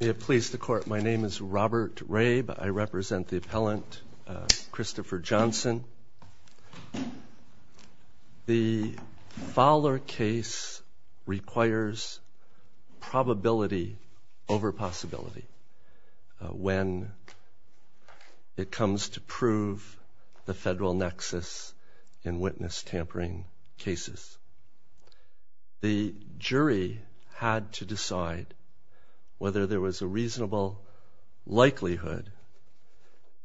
May it please the court, my name is Robert Rabe. I represent the appellant Christopher Johnson. The Fowler case requires probability over possibility when it comes to prove the federal nexus in witness tampering cases. The jury had to decide whether there was a reasonable likelihood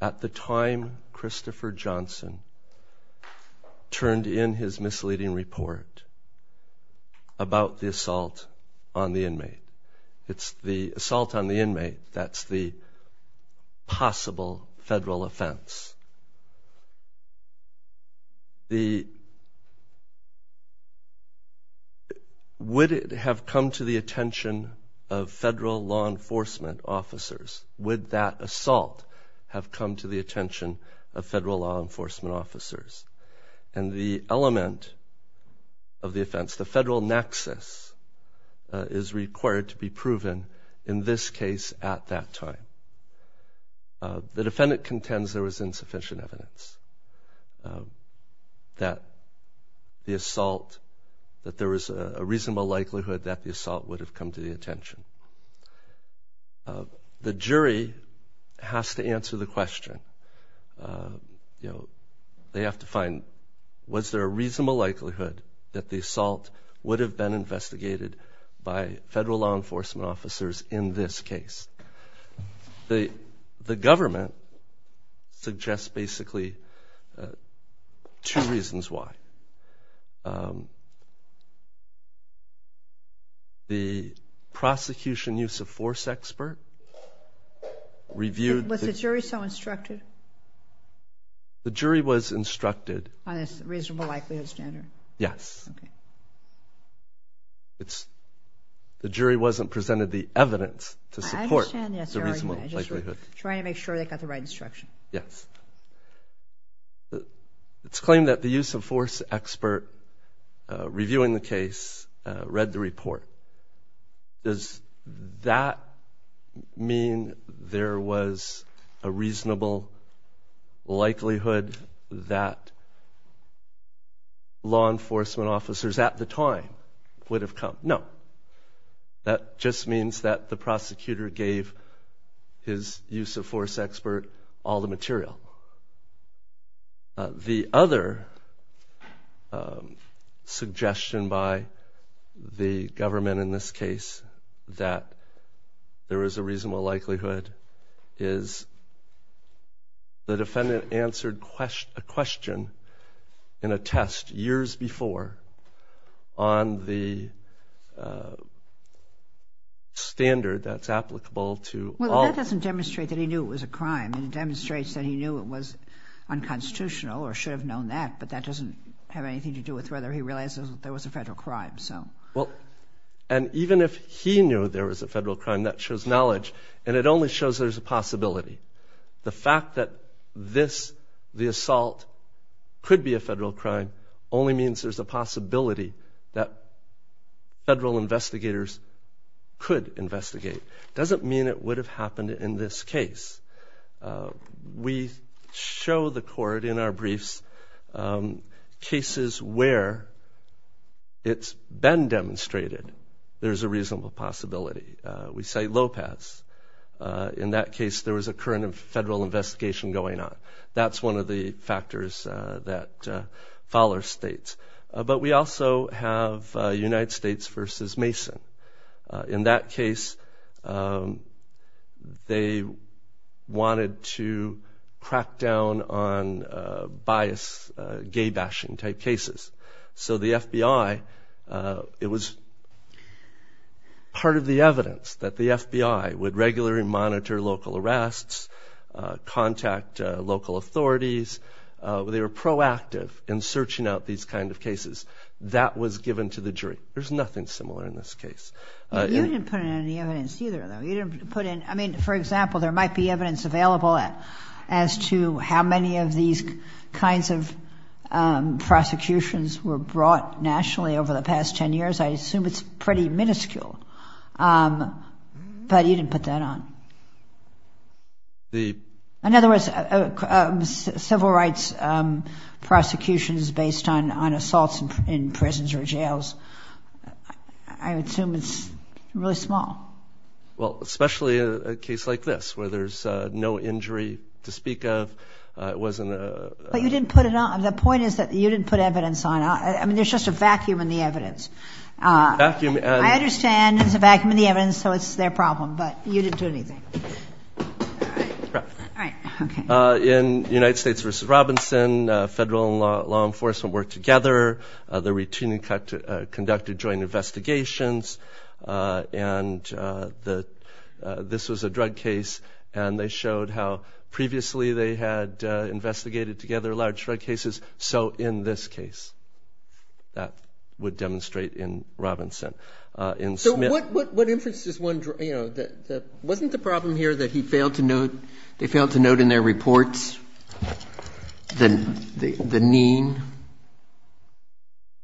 at the time Christopher Johnson turned in his misleading report about the assault on the inmate. It's the assault on the inmate that's the possible federal offense. Would it have come to the attention of federal law enforcement officers? Would that assault have come to the attention of federal law enforcement officers? And the element of the offense, the federal nexus, is required to be proven in this case at that time. The defendant contends there was insufficient evidence that there was a reasonable likelihood that the assault would have come to the attention. The jury has to answer the question. They have to find was there a reasonable likelihood that the assault would have been investigated by federal law enforcement officers in this case. The government suggests basically two reasons why. The prosecution use of force expert reviewed... Was the jury so instructed? The jury was instructed... On a reasonable likelihood standard? Yes. The jury wasn't presented the evidence to support the reasonable likelihood. Trying to make sure they got the right instruction. Yes. It's claimed that the use of force expert reviewing the case read the report. Does that mean there was a reasonable likelihood that law enforcement officers at the time would have come? No. That just means that the prosecutor gave his use of force expert all the material. The other suggestion by the government in this case that there is a reasonable likelihood is the defendant answered a question in a test years before on the standard that's applicable to all... Unconstitutional or should have known that but that doesn't have anything to do with whether he realizes there was a federal crime. Even if he knew there was a federal crime that shows knowledge and it only shows there's a possibility. The fact that this, the assault, could be a federal crime only means there's a possibility that federal investigators could investigate. Doesn't mean it would have happened in this case. We show the court in our briefs cases where it's been demonstrated there's a reasonable possibility. We say Lopez. In that case there was a current federal investigation going on. That's one of the factors that Fowler states. But we also have United States versus Mason. In that case they wanted to crack down on bias, gay bashing type cases. So the FBI, it was part of the evidence that the FBI would regularly monitor local arrests, contact local authorities. They were proactive in searching out these kind of cases. That was given to the jury. There's nothing similar in this case. You didn't put in any evidence either though. You didn't put in, I mean, for example, there might be evidence available as to how many of these kinds of prosecutions were brought nationally over the past 10 years. I assume it's pretty minuscule. But you didn't put that on. In other words, civil rights prosecutions based on assaults in prisons or jails, I assume it's really small. Well, especially a case like this where there's no injury to speak of. But you didn't put it on. The point is that you didn't put evidence on. I mean, there's just a vacuum in the evidence. I understand there's a vacuum in the evidence, so it's their problem. But you didn't do anything. In United States v. Robinson, federal and law enforcement worked together. They routinely conducted joint investigations. And this was a drug case. And they showed how previously they had investigated together large drug cases. So in this case, that would demonstrate in Robinson. So what inference does one draw? You know, wasn't the problem here that they failed to note in their reports the mean?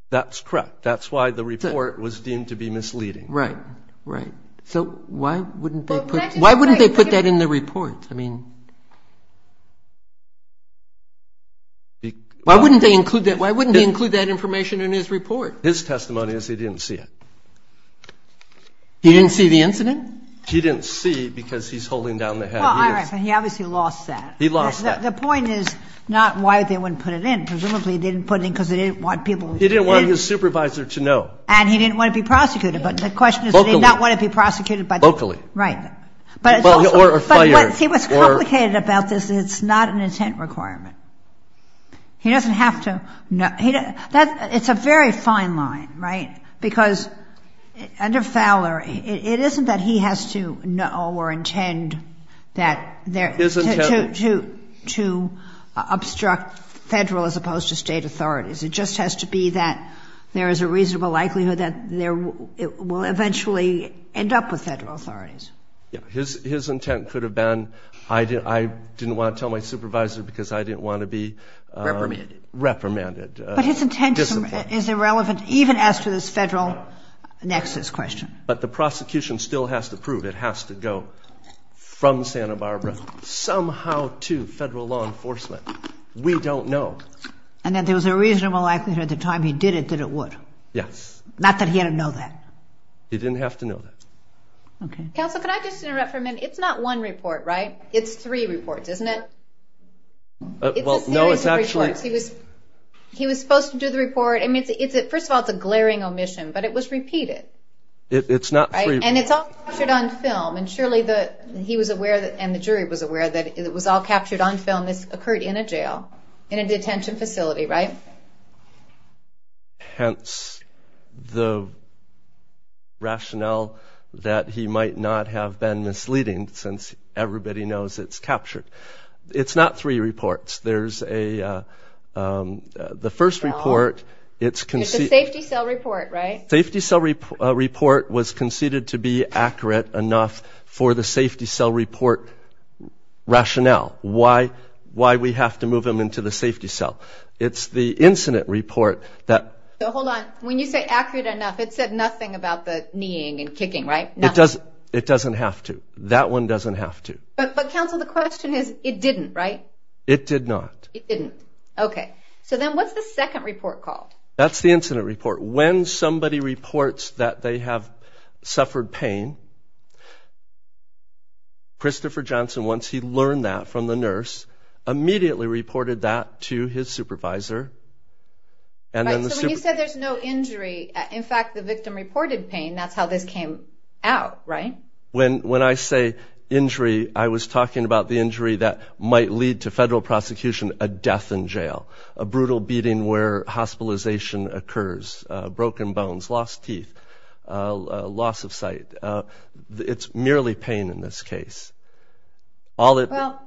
That's correct. That's why the report was deemed to be misleading. Right, right. So why wouldn't they put that in the report? I mean, why wouldn't they include that? Why wouldn't he include that information in his report? His testimony is he didn't see it. He didn't see the incident? He didn't see because he's holding down the hat. He obviously lost that. He lost that. The point is not why they wouldn't put it in. Presumably they didn't put it in because they didn't want people. He didn't want his supervisor to know. And he didn't want to be prosecuted. But the question is, did he not want to be prosecuted? Locally. Right. Or fired. But what's complicated about this is it's not an intent requirement. He doesn't have to know. It's a very fine line, right? Because under Fowler, it isn't that he has to know or intend to obstruct Federal as opposed to State authorities. It just has to be that there is a reasonable likelihood that it will eventually end up with Federal authorities. Yeah. His intent could have been I didn't want to tell my supervisor because I didn't want to be reprimanded. But his intent is irrelevant even after this Federal nexus question. But the prosecution still has to prove it has to go from Santa Barbara somehow to Federal law enforcement. We don't know. And that there was a reasonable likelihood at the time he did it that it would. Yes. Not that he had to know that. He didn't have to know that. Okay. Counsel, can I just interrupt for a minute? It's not one report, right? It's three reports, isn't it? It's a series of reports. He was supposed to do the report. First of all, it's a glaring omission. But it was repeated. It's not three. And it's all captured on film. And surely he was aware and the jury was aware that it was all captured on film. This occurred in a jail, in a detention facility, right? Hence the rationale that he might not have been misleading since everybody knows it's captured. It's not three reports. There's a the first report. It's a safety cell report, right? Safety cell report was conceded to be accurate enough for the safety cell report rationale. Why we have to move him into the safety cell. It's the incident report that... Hold on. When you say accurate enough, it said nothing about the kneeing and kicking, right? Nothing. It doesn't have to. That one doesn't have to. But, counsel, the question is it didn't, right? It did not. It didn't. Okay. So then what's the second report called? That's the incident report. When somebody reports that they have suffered pain, Christopher Johnson, once he learned that from the nurse, immediately reported that to his supervisor. So when you said there's no injury, in fact, the victim reported pain. That's how this came out, right? When I say injury, I was talking about the injury that might lead to federal prosecution, a death in jail, a brutal beating where hospitalization occurs, broken bones, lost teeth, loss of sight. It's merely pain in this case. Well,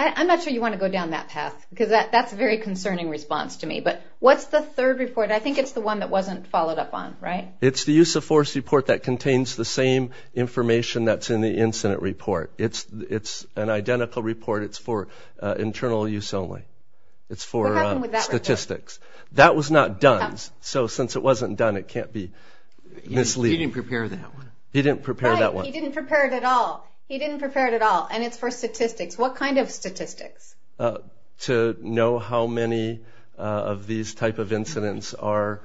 I'm not sure you want to go down that path because that's a very concerning response to me. But what's the third report? I think it's the one that wasn't followed up on, right? It's the use of force report that contains the same information that's in the incident report. It's an identical report. It's for internal use only. It's for statistics. What happened with that report? That was not done. So since it wasn't done, it can't be misleading. He didn't prepare that one. He didn't prepare that one. Right, he didn't prepare it at all. He didn't prepare it at all. And it's for statistics. What kind of statistics? To know how many of these type of incidents are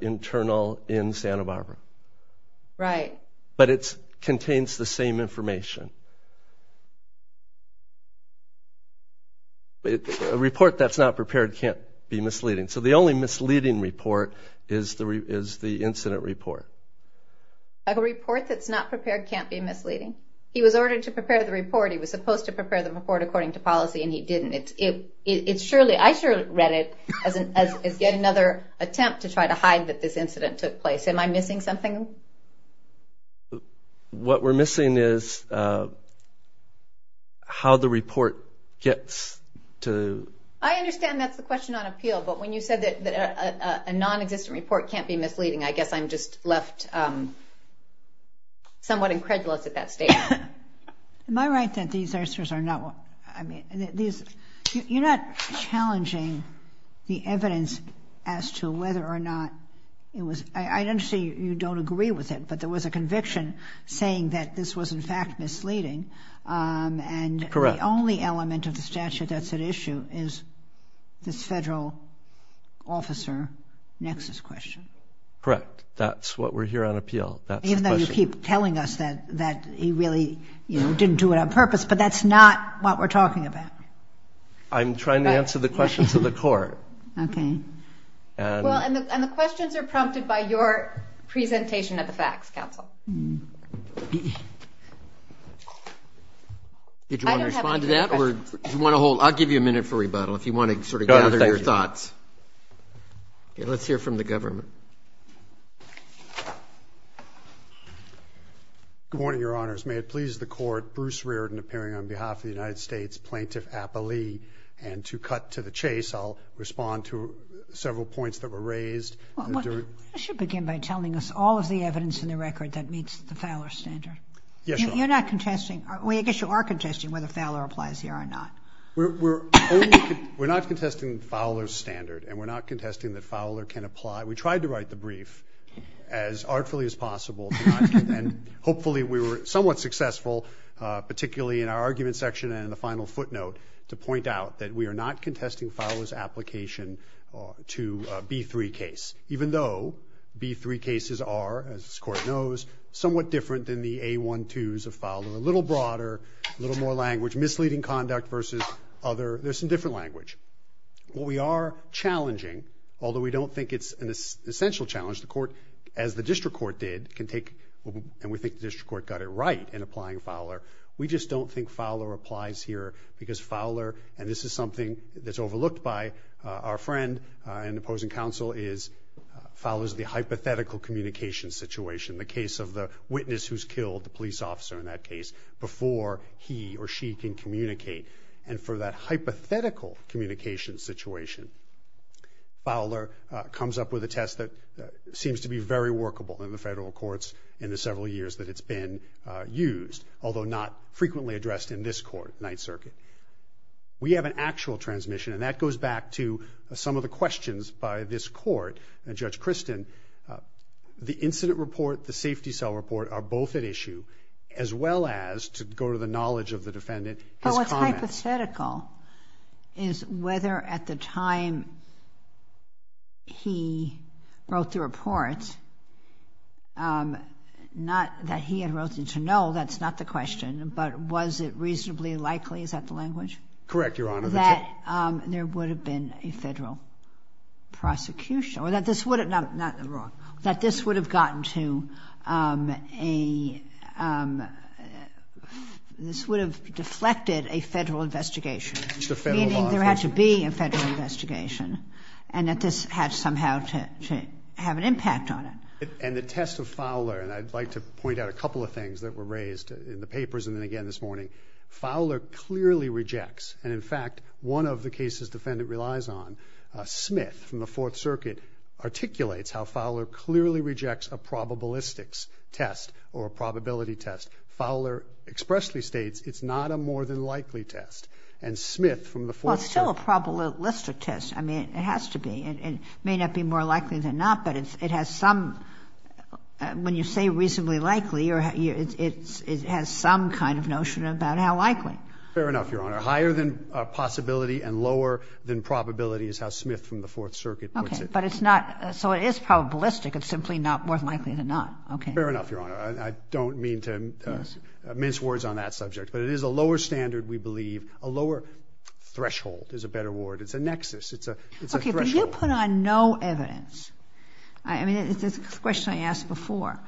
internal in Santa Barbara. Right. But it contains the same information. A report that's not prepared can't be misleading. So the only misleading report is the incident report. A report that's not prepared can't be misleading. He was ordered to prepare the report. He was supposed to prepare the report according to policy, and he didn't. I surely read it as yet another attempt to try to hide that this incident took place. Am I missing something? What we're missing is how the report gets to the ______. I understand that's the question on appeal. But when you said that a nonexistent report can't be misleading, I guess I'm just left somewhat incredulous at that statement. Am I right that these answers are not ______? You're not challenging the evidence as to whether or not it was ______. I understand you don't agree with it, but there was a conviction saying that this was, in fact, misleading. Correct. And the only element of the statute that's at issue is this federal officer nexus question. Correct. That's what we're here on appeal. That's the question. Even though you keep telling us that he really didn't do it on purpose, but that's not what we're talking about. I'm trying to answer the questions of the court. Okay. And the questions are prompted by your presentation of the facts, Counsel. Did you want to respond to that, or do you want to hold ______? I'll give you a minute for rebuttal if you want to sort of gather your thoughts. Okay. Let's hear from the government. Good morning, Your Honors. May it please the Court, Bruce Reardon appearing on behalf of the United States Plaintiff Appellee. And to cut to the chase, I'll respond to several points that were raised. You should begin by telling us all of the evidence in the record that meets the Fowler standard. Yes, Your Honor. You're not contesting. Well, I guess you are contesting whether Fowler applies here or not. We're not contesting Fowler's standard, and we're not contesting that Fowler can apply. We tried to write the brief as artfully as possible, and hopefully we were somewhat successful, particularly in our argument section and in the final footnote, to point out that we are not contesting Fowler's application to a B-3 case, even though B-3 cases are, as this Court knows, somewhat different than the A-1-2s of Fowler, a little broader, a little more language, misleading conduct versus other. There's some different language. What we are challenging, although we don't think it's an essential challenge, the Court, as the District Court did, can take, and we think the District Court got it right in applying Fowler. We just don't think Fowler applies here because Fowler, and this is something that's overlooked by our friend and opposing counsel, is Fowler's hypothetical communication situation, the case of the witness who's killed, the police officer in that case, before he or she can communicate. And for that hypothetical communication situation, Fowler comes up with a test that seems to be very workable in the federal courts in the several years that it's been used, although not frequently addressed in this Court, Ninth Circuit. We have an actual transmission, and that goes back to some of the questions by this Court and Judge Christin. The incident report, the safety cell report are both at issue, as well as, to go to the knowledge of the defendant, his comment. But what's hypothetical is whether at the time he wrote the report, not that he had wrote it, to know, that's not the question, but was it reasonably likely, is that the language? Correct, Your Honor. That there would have been a federal prosecution, or that this would have gotten to a, this would have deflected a federal investigation, meaning there had to be a federal investigation, and that this had somehow to have an impact on it. And the test of Fowler, and I'd like to point out a couple of things that were raised in the papers, and then again this morning. Fowler clearly rejects, and in fact, one of the cases the defendant relies on, Smith from the Fourth Circuit, articulates how Fowler clearly rejects a probabilistics test, or a probability test. Fowler expressly states it's not a more than likely test. And Smith from the Fourth Circuit. Well, it's still a probabilistic test. I mean, it has to be. It may not be more likely than not, but it has some, when you say reasonably likely, it has some kind of notion about how likely. Fair enough, Your Honor. Higher than possibility and lower than probability is how Smith from the Fourth Circuit puts it. Okay. But it's not, so it is probabilistic. It's simply not more than likely than not. Okay. Fair enough, Your Honor. I don't mean to mince words on that subject, but it is a lower standard, we believe. A lower threshold is a better word. It's a nexus. It's a threshold. Okay, but you put on no evidence. I mean, it's a question I asked before.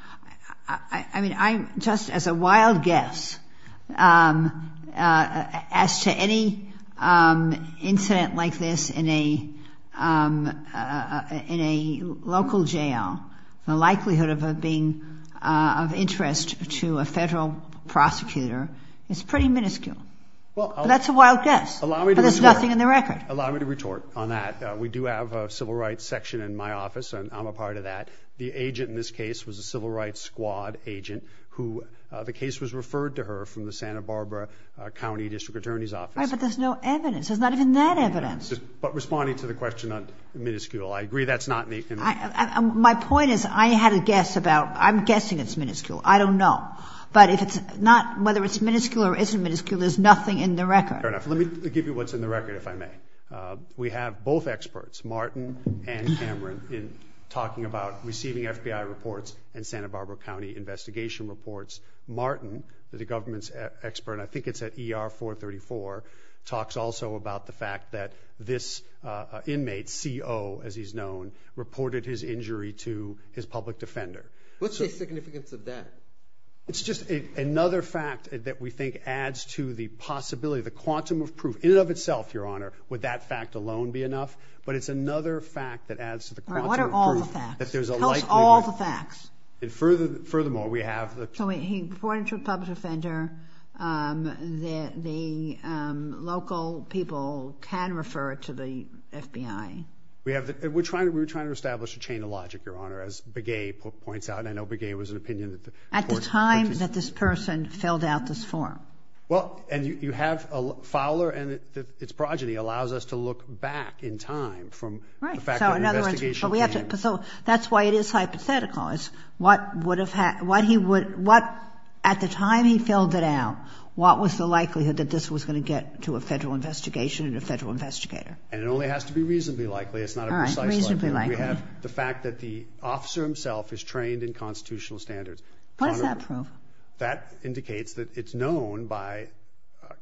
I mean, I'm just, as a wild guess, as to any incident like this in a local jail, the likelihood of it being of interest to a Federal prosecutor is pretty minuscule. That's a wild guess, but there's nothing in the record. Allow me to retort on that. We do have a civil rights section in my office, and I'm a part of that. The agent in this case was a civil rights squad agent who, the case was referred to her from the Santa Barbara County District Attorney's Office. All right, but there's no evidence. There's not even that evidence. But responding to the question on minuscule, I agree that's not in the record. My point is I had a guess about, I'm guessing it's minuscule. I don't know. But if it's not, whether it's minuscule or isn't minuscule, there's nothing in the record. Fair enough. Let me give you what's in the record, if I may. We have both experts, Martin and Cameron, talking about receiving FBI reports and Santa Barbara County investigation reports. Martin, the government's expert, I think it's at ER 434, talks also about the fact that this inmate, CO, as he's known, reported his injury to his public defender. What's the significance of that? It's just another fact that we think adds to the possibility, the quantum of proof, in and of itself, Your Honor, would that fact alone be enough? But it's another fact that adds to the quantum of proof. What are all the facts? Tell us all the facts. And furthermore, we have the... So he reported to a public defender. The local people can refer to the FBI. We're trying to establish a chain of logic, Your Honor, as Begay points out. And I know Begay was an opinion that the court... At the time that this person filled out this form. Well, and you have Fowler and its progeny allows us to look back in time from... Right, so in other words... The fact that an investigation came... But we have to... So that's why it is hypothetical, is what would have... What he would... What... At the time he filled it out, what was the likelihood that this was going to get to a federal investigation and a federal investigator? And it only has to be reasonably likely. It's not a precise... All right, reasonably likely. We have the fact that the officer himself is trained in constitutional standards. What does that prove? That indicates that it's known by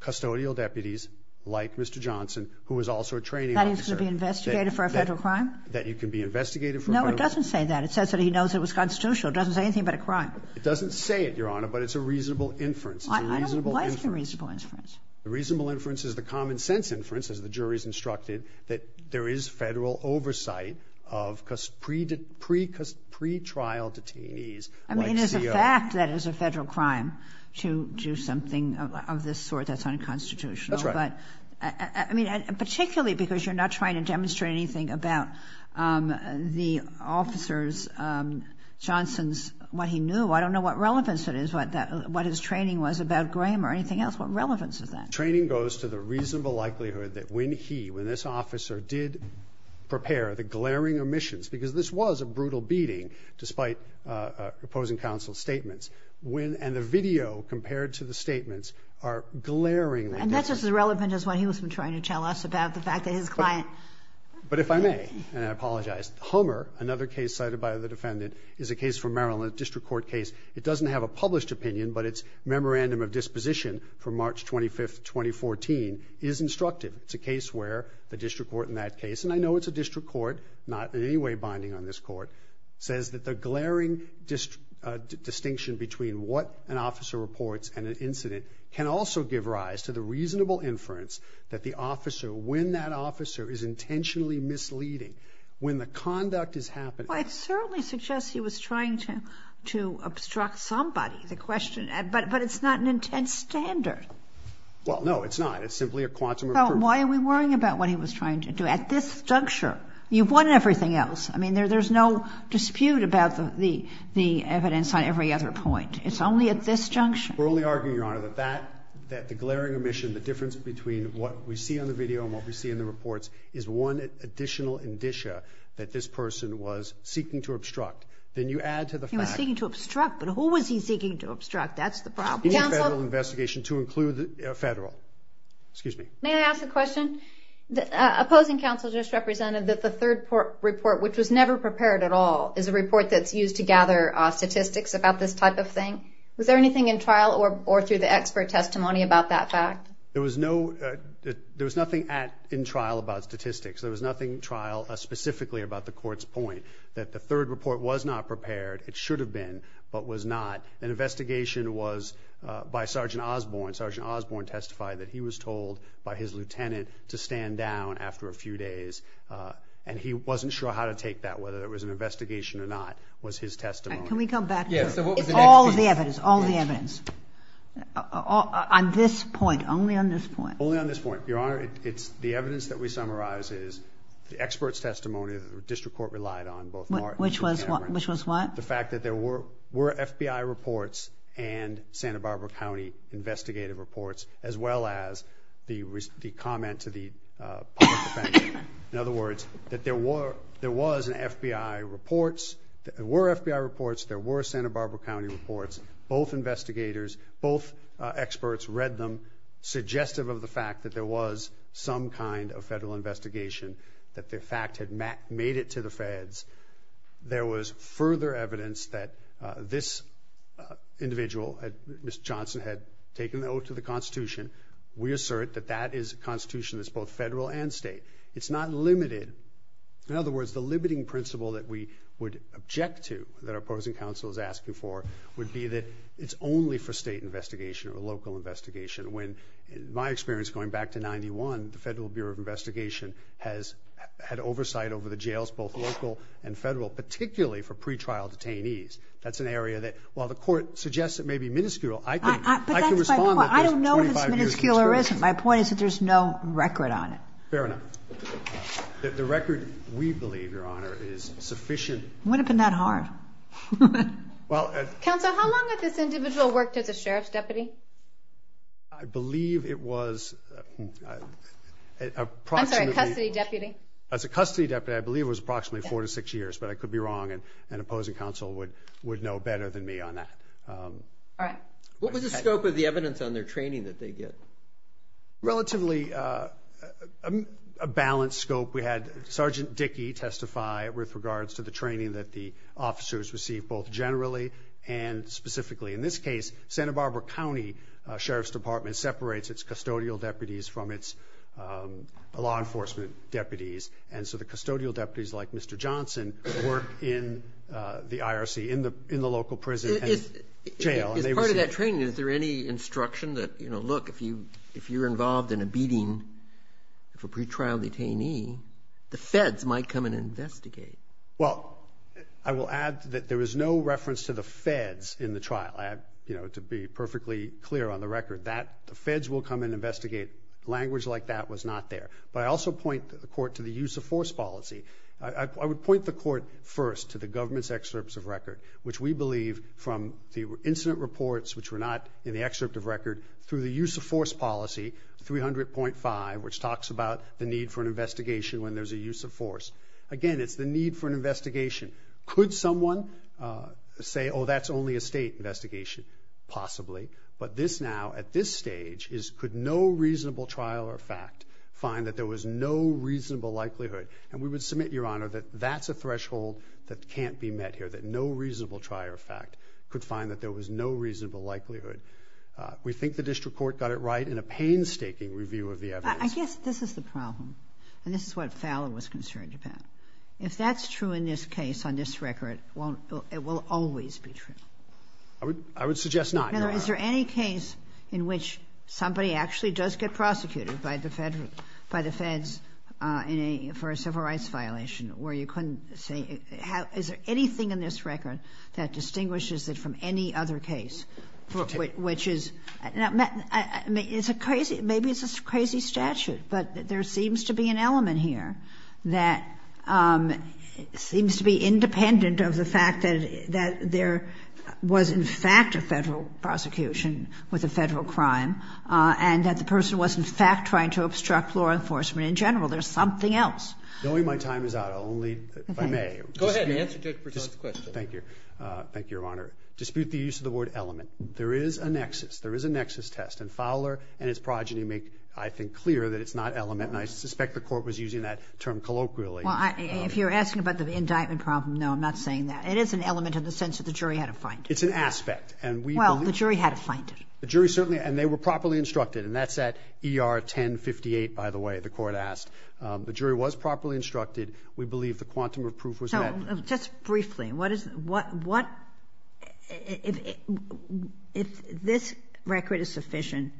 custodial deputies like Mr. Johnson, who is also a training officer. That he's going to be investigated for a federal crime? That he can be investigated for a federal... No, it doesn't say that. It says that he knows it was constitutional. It doesn't say anything about a crime. It doesn't say it, Your Honor, but it's a reasonable inference. It's a reasonable inference. Why is it a reasonable inference? The reasonable inference is the common sense inference, as the jury's instructed, that there is federal oversight of pretrial detainees like CO... I mean, it is a fact that it's a federal crime to do something of this sort that's That's right. But, I mean, particularly because you're not trying to demonstrate anything about the officer's, Johnson's, what he knew. I don't know what relevance it is, what his training was about Graham or anything else. What relevance is that? Training goes to the reasonable likelihood that when he, when this officer did prepare the glaring omissions, because this was a brutal beating, despite opposing counsel's statements, when... and the video compared to the statements are glaringly... And that's just as relevant as what he was trying to tell us about the fact that his client... But if I may, and I apologize, Hummer, another case cited by the defendant, is a case from Maryland, a district court case. It doesn't have a published opinion, but its memorandum of disposition from March 25, 2014, is instructed. It's a case where the district court in that case, and I know it's a district court, not in any way binding on this court, says that the glaring distinction between what an officer reports and an incident can also give rise to the reasonable inference that the officer, when that officer is intentionally misleading, when the conduct is happening... Well, I certainly suggest he was trying to obstruct somebody. The question... but it's not an intense standard. Well, no, it's not. It's simply a quantum... So why are we worrying about what he was trying to do? At this juncture, you've won everything else. I mean, there's no dispute about the evidence on every other point. It's only at this junction. We're only arguing, Your Honor, that that, that the glaring omission, the difference between what we see on the video and what we see in the reports is one additional indicia that this person was seeking to obstruct. Then you add to the fact... He was seeking to obstruct, but who was he seeking to obstruct? That's the problem. Counsel? Any Federal investigation to include Federal. Excuse me. May I ask a question? Opposing counsel just represented that the third report, which was never prepared at all, is a report that's used to gather statistics about this type of thing. Was there anything in trial or through the expert testimony about that fact? There was no... there was nothing in trial about statistics. There was nothing in trial specifically about the court's point that the third report was not prepared. It should have been, but was not. An investigation was by Sergeant Osborne. Sergeant Osborne testified that he was told by his lieutenant to stand down after a few days, and he wasn't sure how to take that, whether it was an investigation or not, was his testimony. Can we come back to... Yes, so what was the next piece? All of the evidence, all of the evidence. On this point, only on this point. Only on this point. Your Honor, it's the evidence that we summarize is the expert's testimony that the district court relied on, both Mark... Which was what? Which was what? The fact that there were FBI reports and Santa Barbara County investigative reports, as well as the comment to the public defender. In other words, that there was an FBI report. There were FBI reports. There were Santa Barbara County reports. Both investigators, both experts read them, suggestive of the fact that there was some kind of federal investigation, that the fact had made it to the feds. There was further evidence that this individual, Mr. Johnson, had taken an oath to the Constitution. We assert that that is a Constitution that's both federal and state. It's not limited. In other words, the limiting principle that we would object to, that our opposing counsel is asking for, would be that it's only for state investigation or local investigation. When, in my experience going back to 91, the Federal Bureau of Investigation had oversight over the jails, both local and federal, particularly for pre-trial detainees. That's an area that, while the court suggests it may be minuscule, I can respond... But that's my point. I don't know if it's minuscule or isn't. My point is that there's no record on it. Fair enough. The record, we believe, Your Honor, is sufficient... Would have been that hard. Well... Counsel, how long had this individual worked as a sheriff's deputy? I believe it was approximately... I'm sorry, custody deputy? As a custody deputy, I believe it was approximately four to six years, but I could be wrong and an opposing counsel would know better than me on that. All right. What was the scope of the evidence on their training that they get? Relatively a balanced scope. We had Sergeant Dickey testify with regards to the training that the officers received, both generally and specifically. In this case, Santa Barbara County Sheriff's Department separates its law enforcement deputies, and so the custodial deputies, like Mr. Johnson, work in the IRC, in the local prison and jail. As part of that training, is there any instruction that, you know, look, if you're involved in a beating of a pretrial detainee, the feds might come and investigate? Well, I will add that there was no reference to the feds in the trial, to be perfectly clear on the record. The feds will come and investigate. Language like that was not there. But I also point the court to the use of force policy. I would point the court first to the government's excerpts of record, which we believe from the incident reports, which were not in the excerpt of record, through the use of force policy, 300.5, which talks about the need for an investigation when there's a use of force. Again, it's the need for an investigation. Could someone say, oh, that's only a state investigation? Possibly. But this now, at this stage, could no reasonable trial or fact find that there was no reasonable likelihood? And we would submit, Your Honor, that that's a threshold that can't be met here, that no reasonable trial or fact could find that there was no reasonable likelihood. We think the district court got it right in a painstaking review of the evidence. But I guess this is the problem, and this is what Fowler was concerned about. If that's true in this case, on this record, it will always be true. I would suggest not. Now, is there any case in which somebody actually does get prosecuted by the feds for a civil rights violation, where you couldn't say, is there anything in this record that distinguishes it from any other case? Which is, maybe it's a crazy statute, but there seems to be an element here that seems to be independent of the fact that there was, in fact, a federal prosecution with a federal crime, and that the person was, in fact, trying to obstruct law enforcement in general. There's something else. Knowing my time is out, I'll only, if I may. Go ahead. Answer Judge Berzont's question. Thank you. Thank you, Your Honor. Dispute the use of the word element. There is a nexus. There is a nexus test. And Fowler and his progeny make, I think, clear that it's not element, and I suspect the court was using that term colloquially. Well, if you're asking about the indictment problem, no, I'm not saying that. It is an element in the sense that the jury had to find it. It's an aspect. Well, the jury had to find it. The jury certainly, and they were properly instructed, and that's at ER 1058, by the way, the court asked. The jury was properly instructed. We believe the quantum of proof was met. So, just briefly, if this record is sufficient,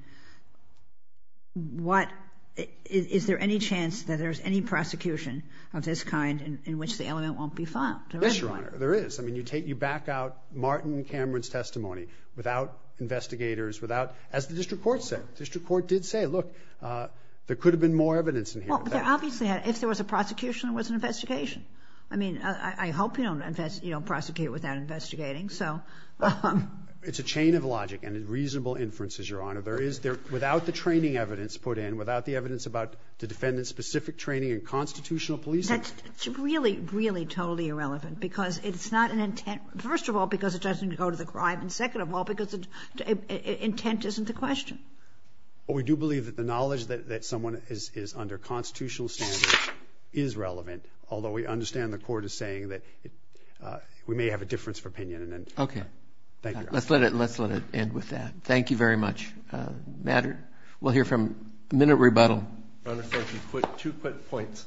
is there any chance that there's any prosecution of this kind in which the element won't be found? Yes, Your Honor, there is. I mean, you take, you back out Martin and Cameron's testimony without investigators, without, as the district court said. The district court did say, look, there could have been more evidence in here. Well, there obviously had. If there was a prosecution, there was an investigation. I mean, I hope you don't investigate, you don't prosecute without investigating, so. It's a chain of logic and reasonable inferences, Your Honor. There is, without the training evidence put in, without the evidence about the defendant's specific training in constitutional policing. It's really, really totally irrelevant, because it's not an intent. First of all, because it doesn't go to the crime, and second of all, because intent isn't the question. Well, we do believe that the knowledge that someone is under constitutional standards is relevant, although we understand the court is saying that we may have a difference of opinion. Okay. Thank you, Your Honor. Let's let it end with that. Thank you very much. We'll hear from minute rebuttal. Your Honor, two quick points.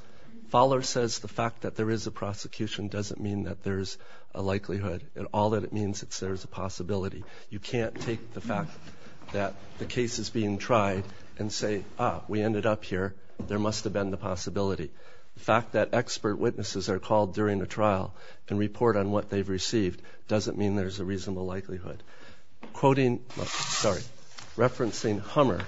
Fowler says the fact that there is a prosecution doesn't mean that there's a likelihood. All that it means is there's a possibility. You can't take the fact that the case is being tried and say, ah, we ended up here. There must have been the possibility. The fact that expert witnesses are called during the trial and report on what they've received doesn't mean there's a reasonable likelihood. Referencing Hummer,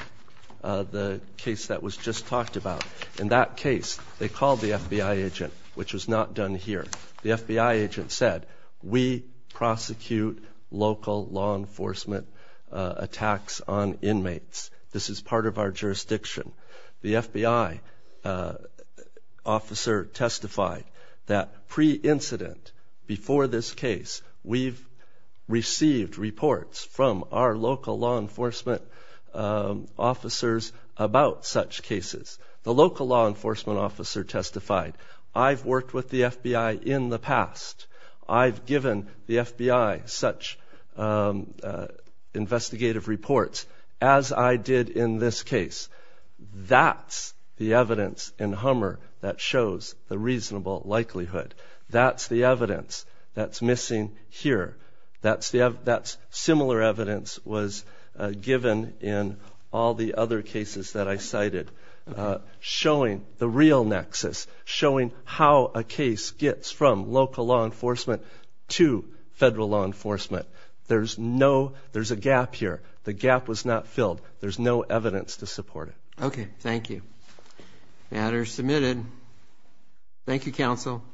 the case that was just talked about, in that case, they called the FBI agent, which was not done here. The FBI agent said, we prosecute local law enforcement attacks on inmates. This is part of our jurisdiction. The FBI officer testified that pre-incident, before this case, we've received reports from our local law enforcement officers about such cases. The local law enforcement officer testified, I've worked with the FBI in the past. I've given the FBI such investigative reports as I did in this case. That's the evidence in Hummer that shows the reasonable likelihood. That's the evidence that's missing here. That similar evidence was given in all the other cases that I cited, showing the real nexus, showing how a case gets from local law enforcement to federal law enforcement. There's a gap here. The gap was not filled. There's no evidence to support it. Okay. Thank you. Matter submitted. Thank you, counsel.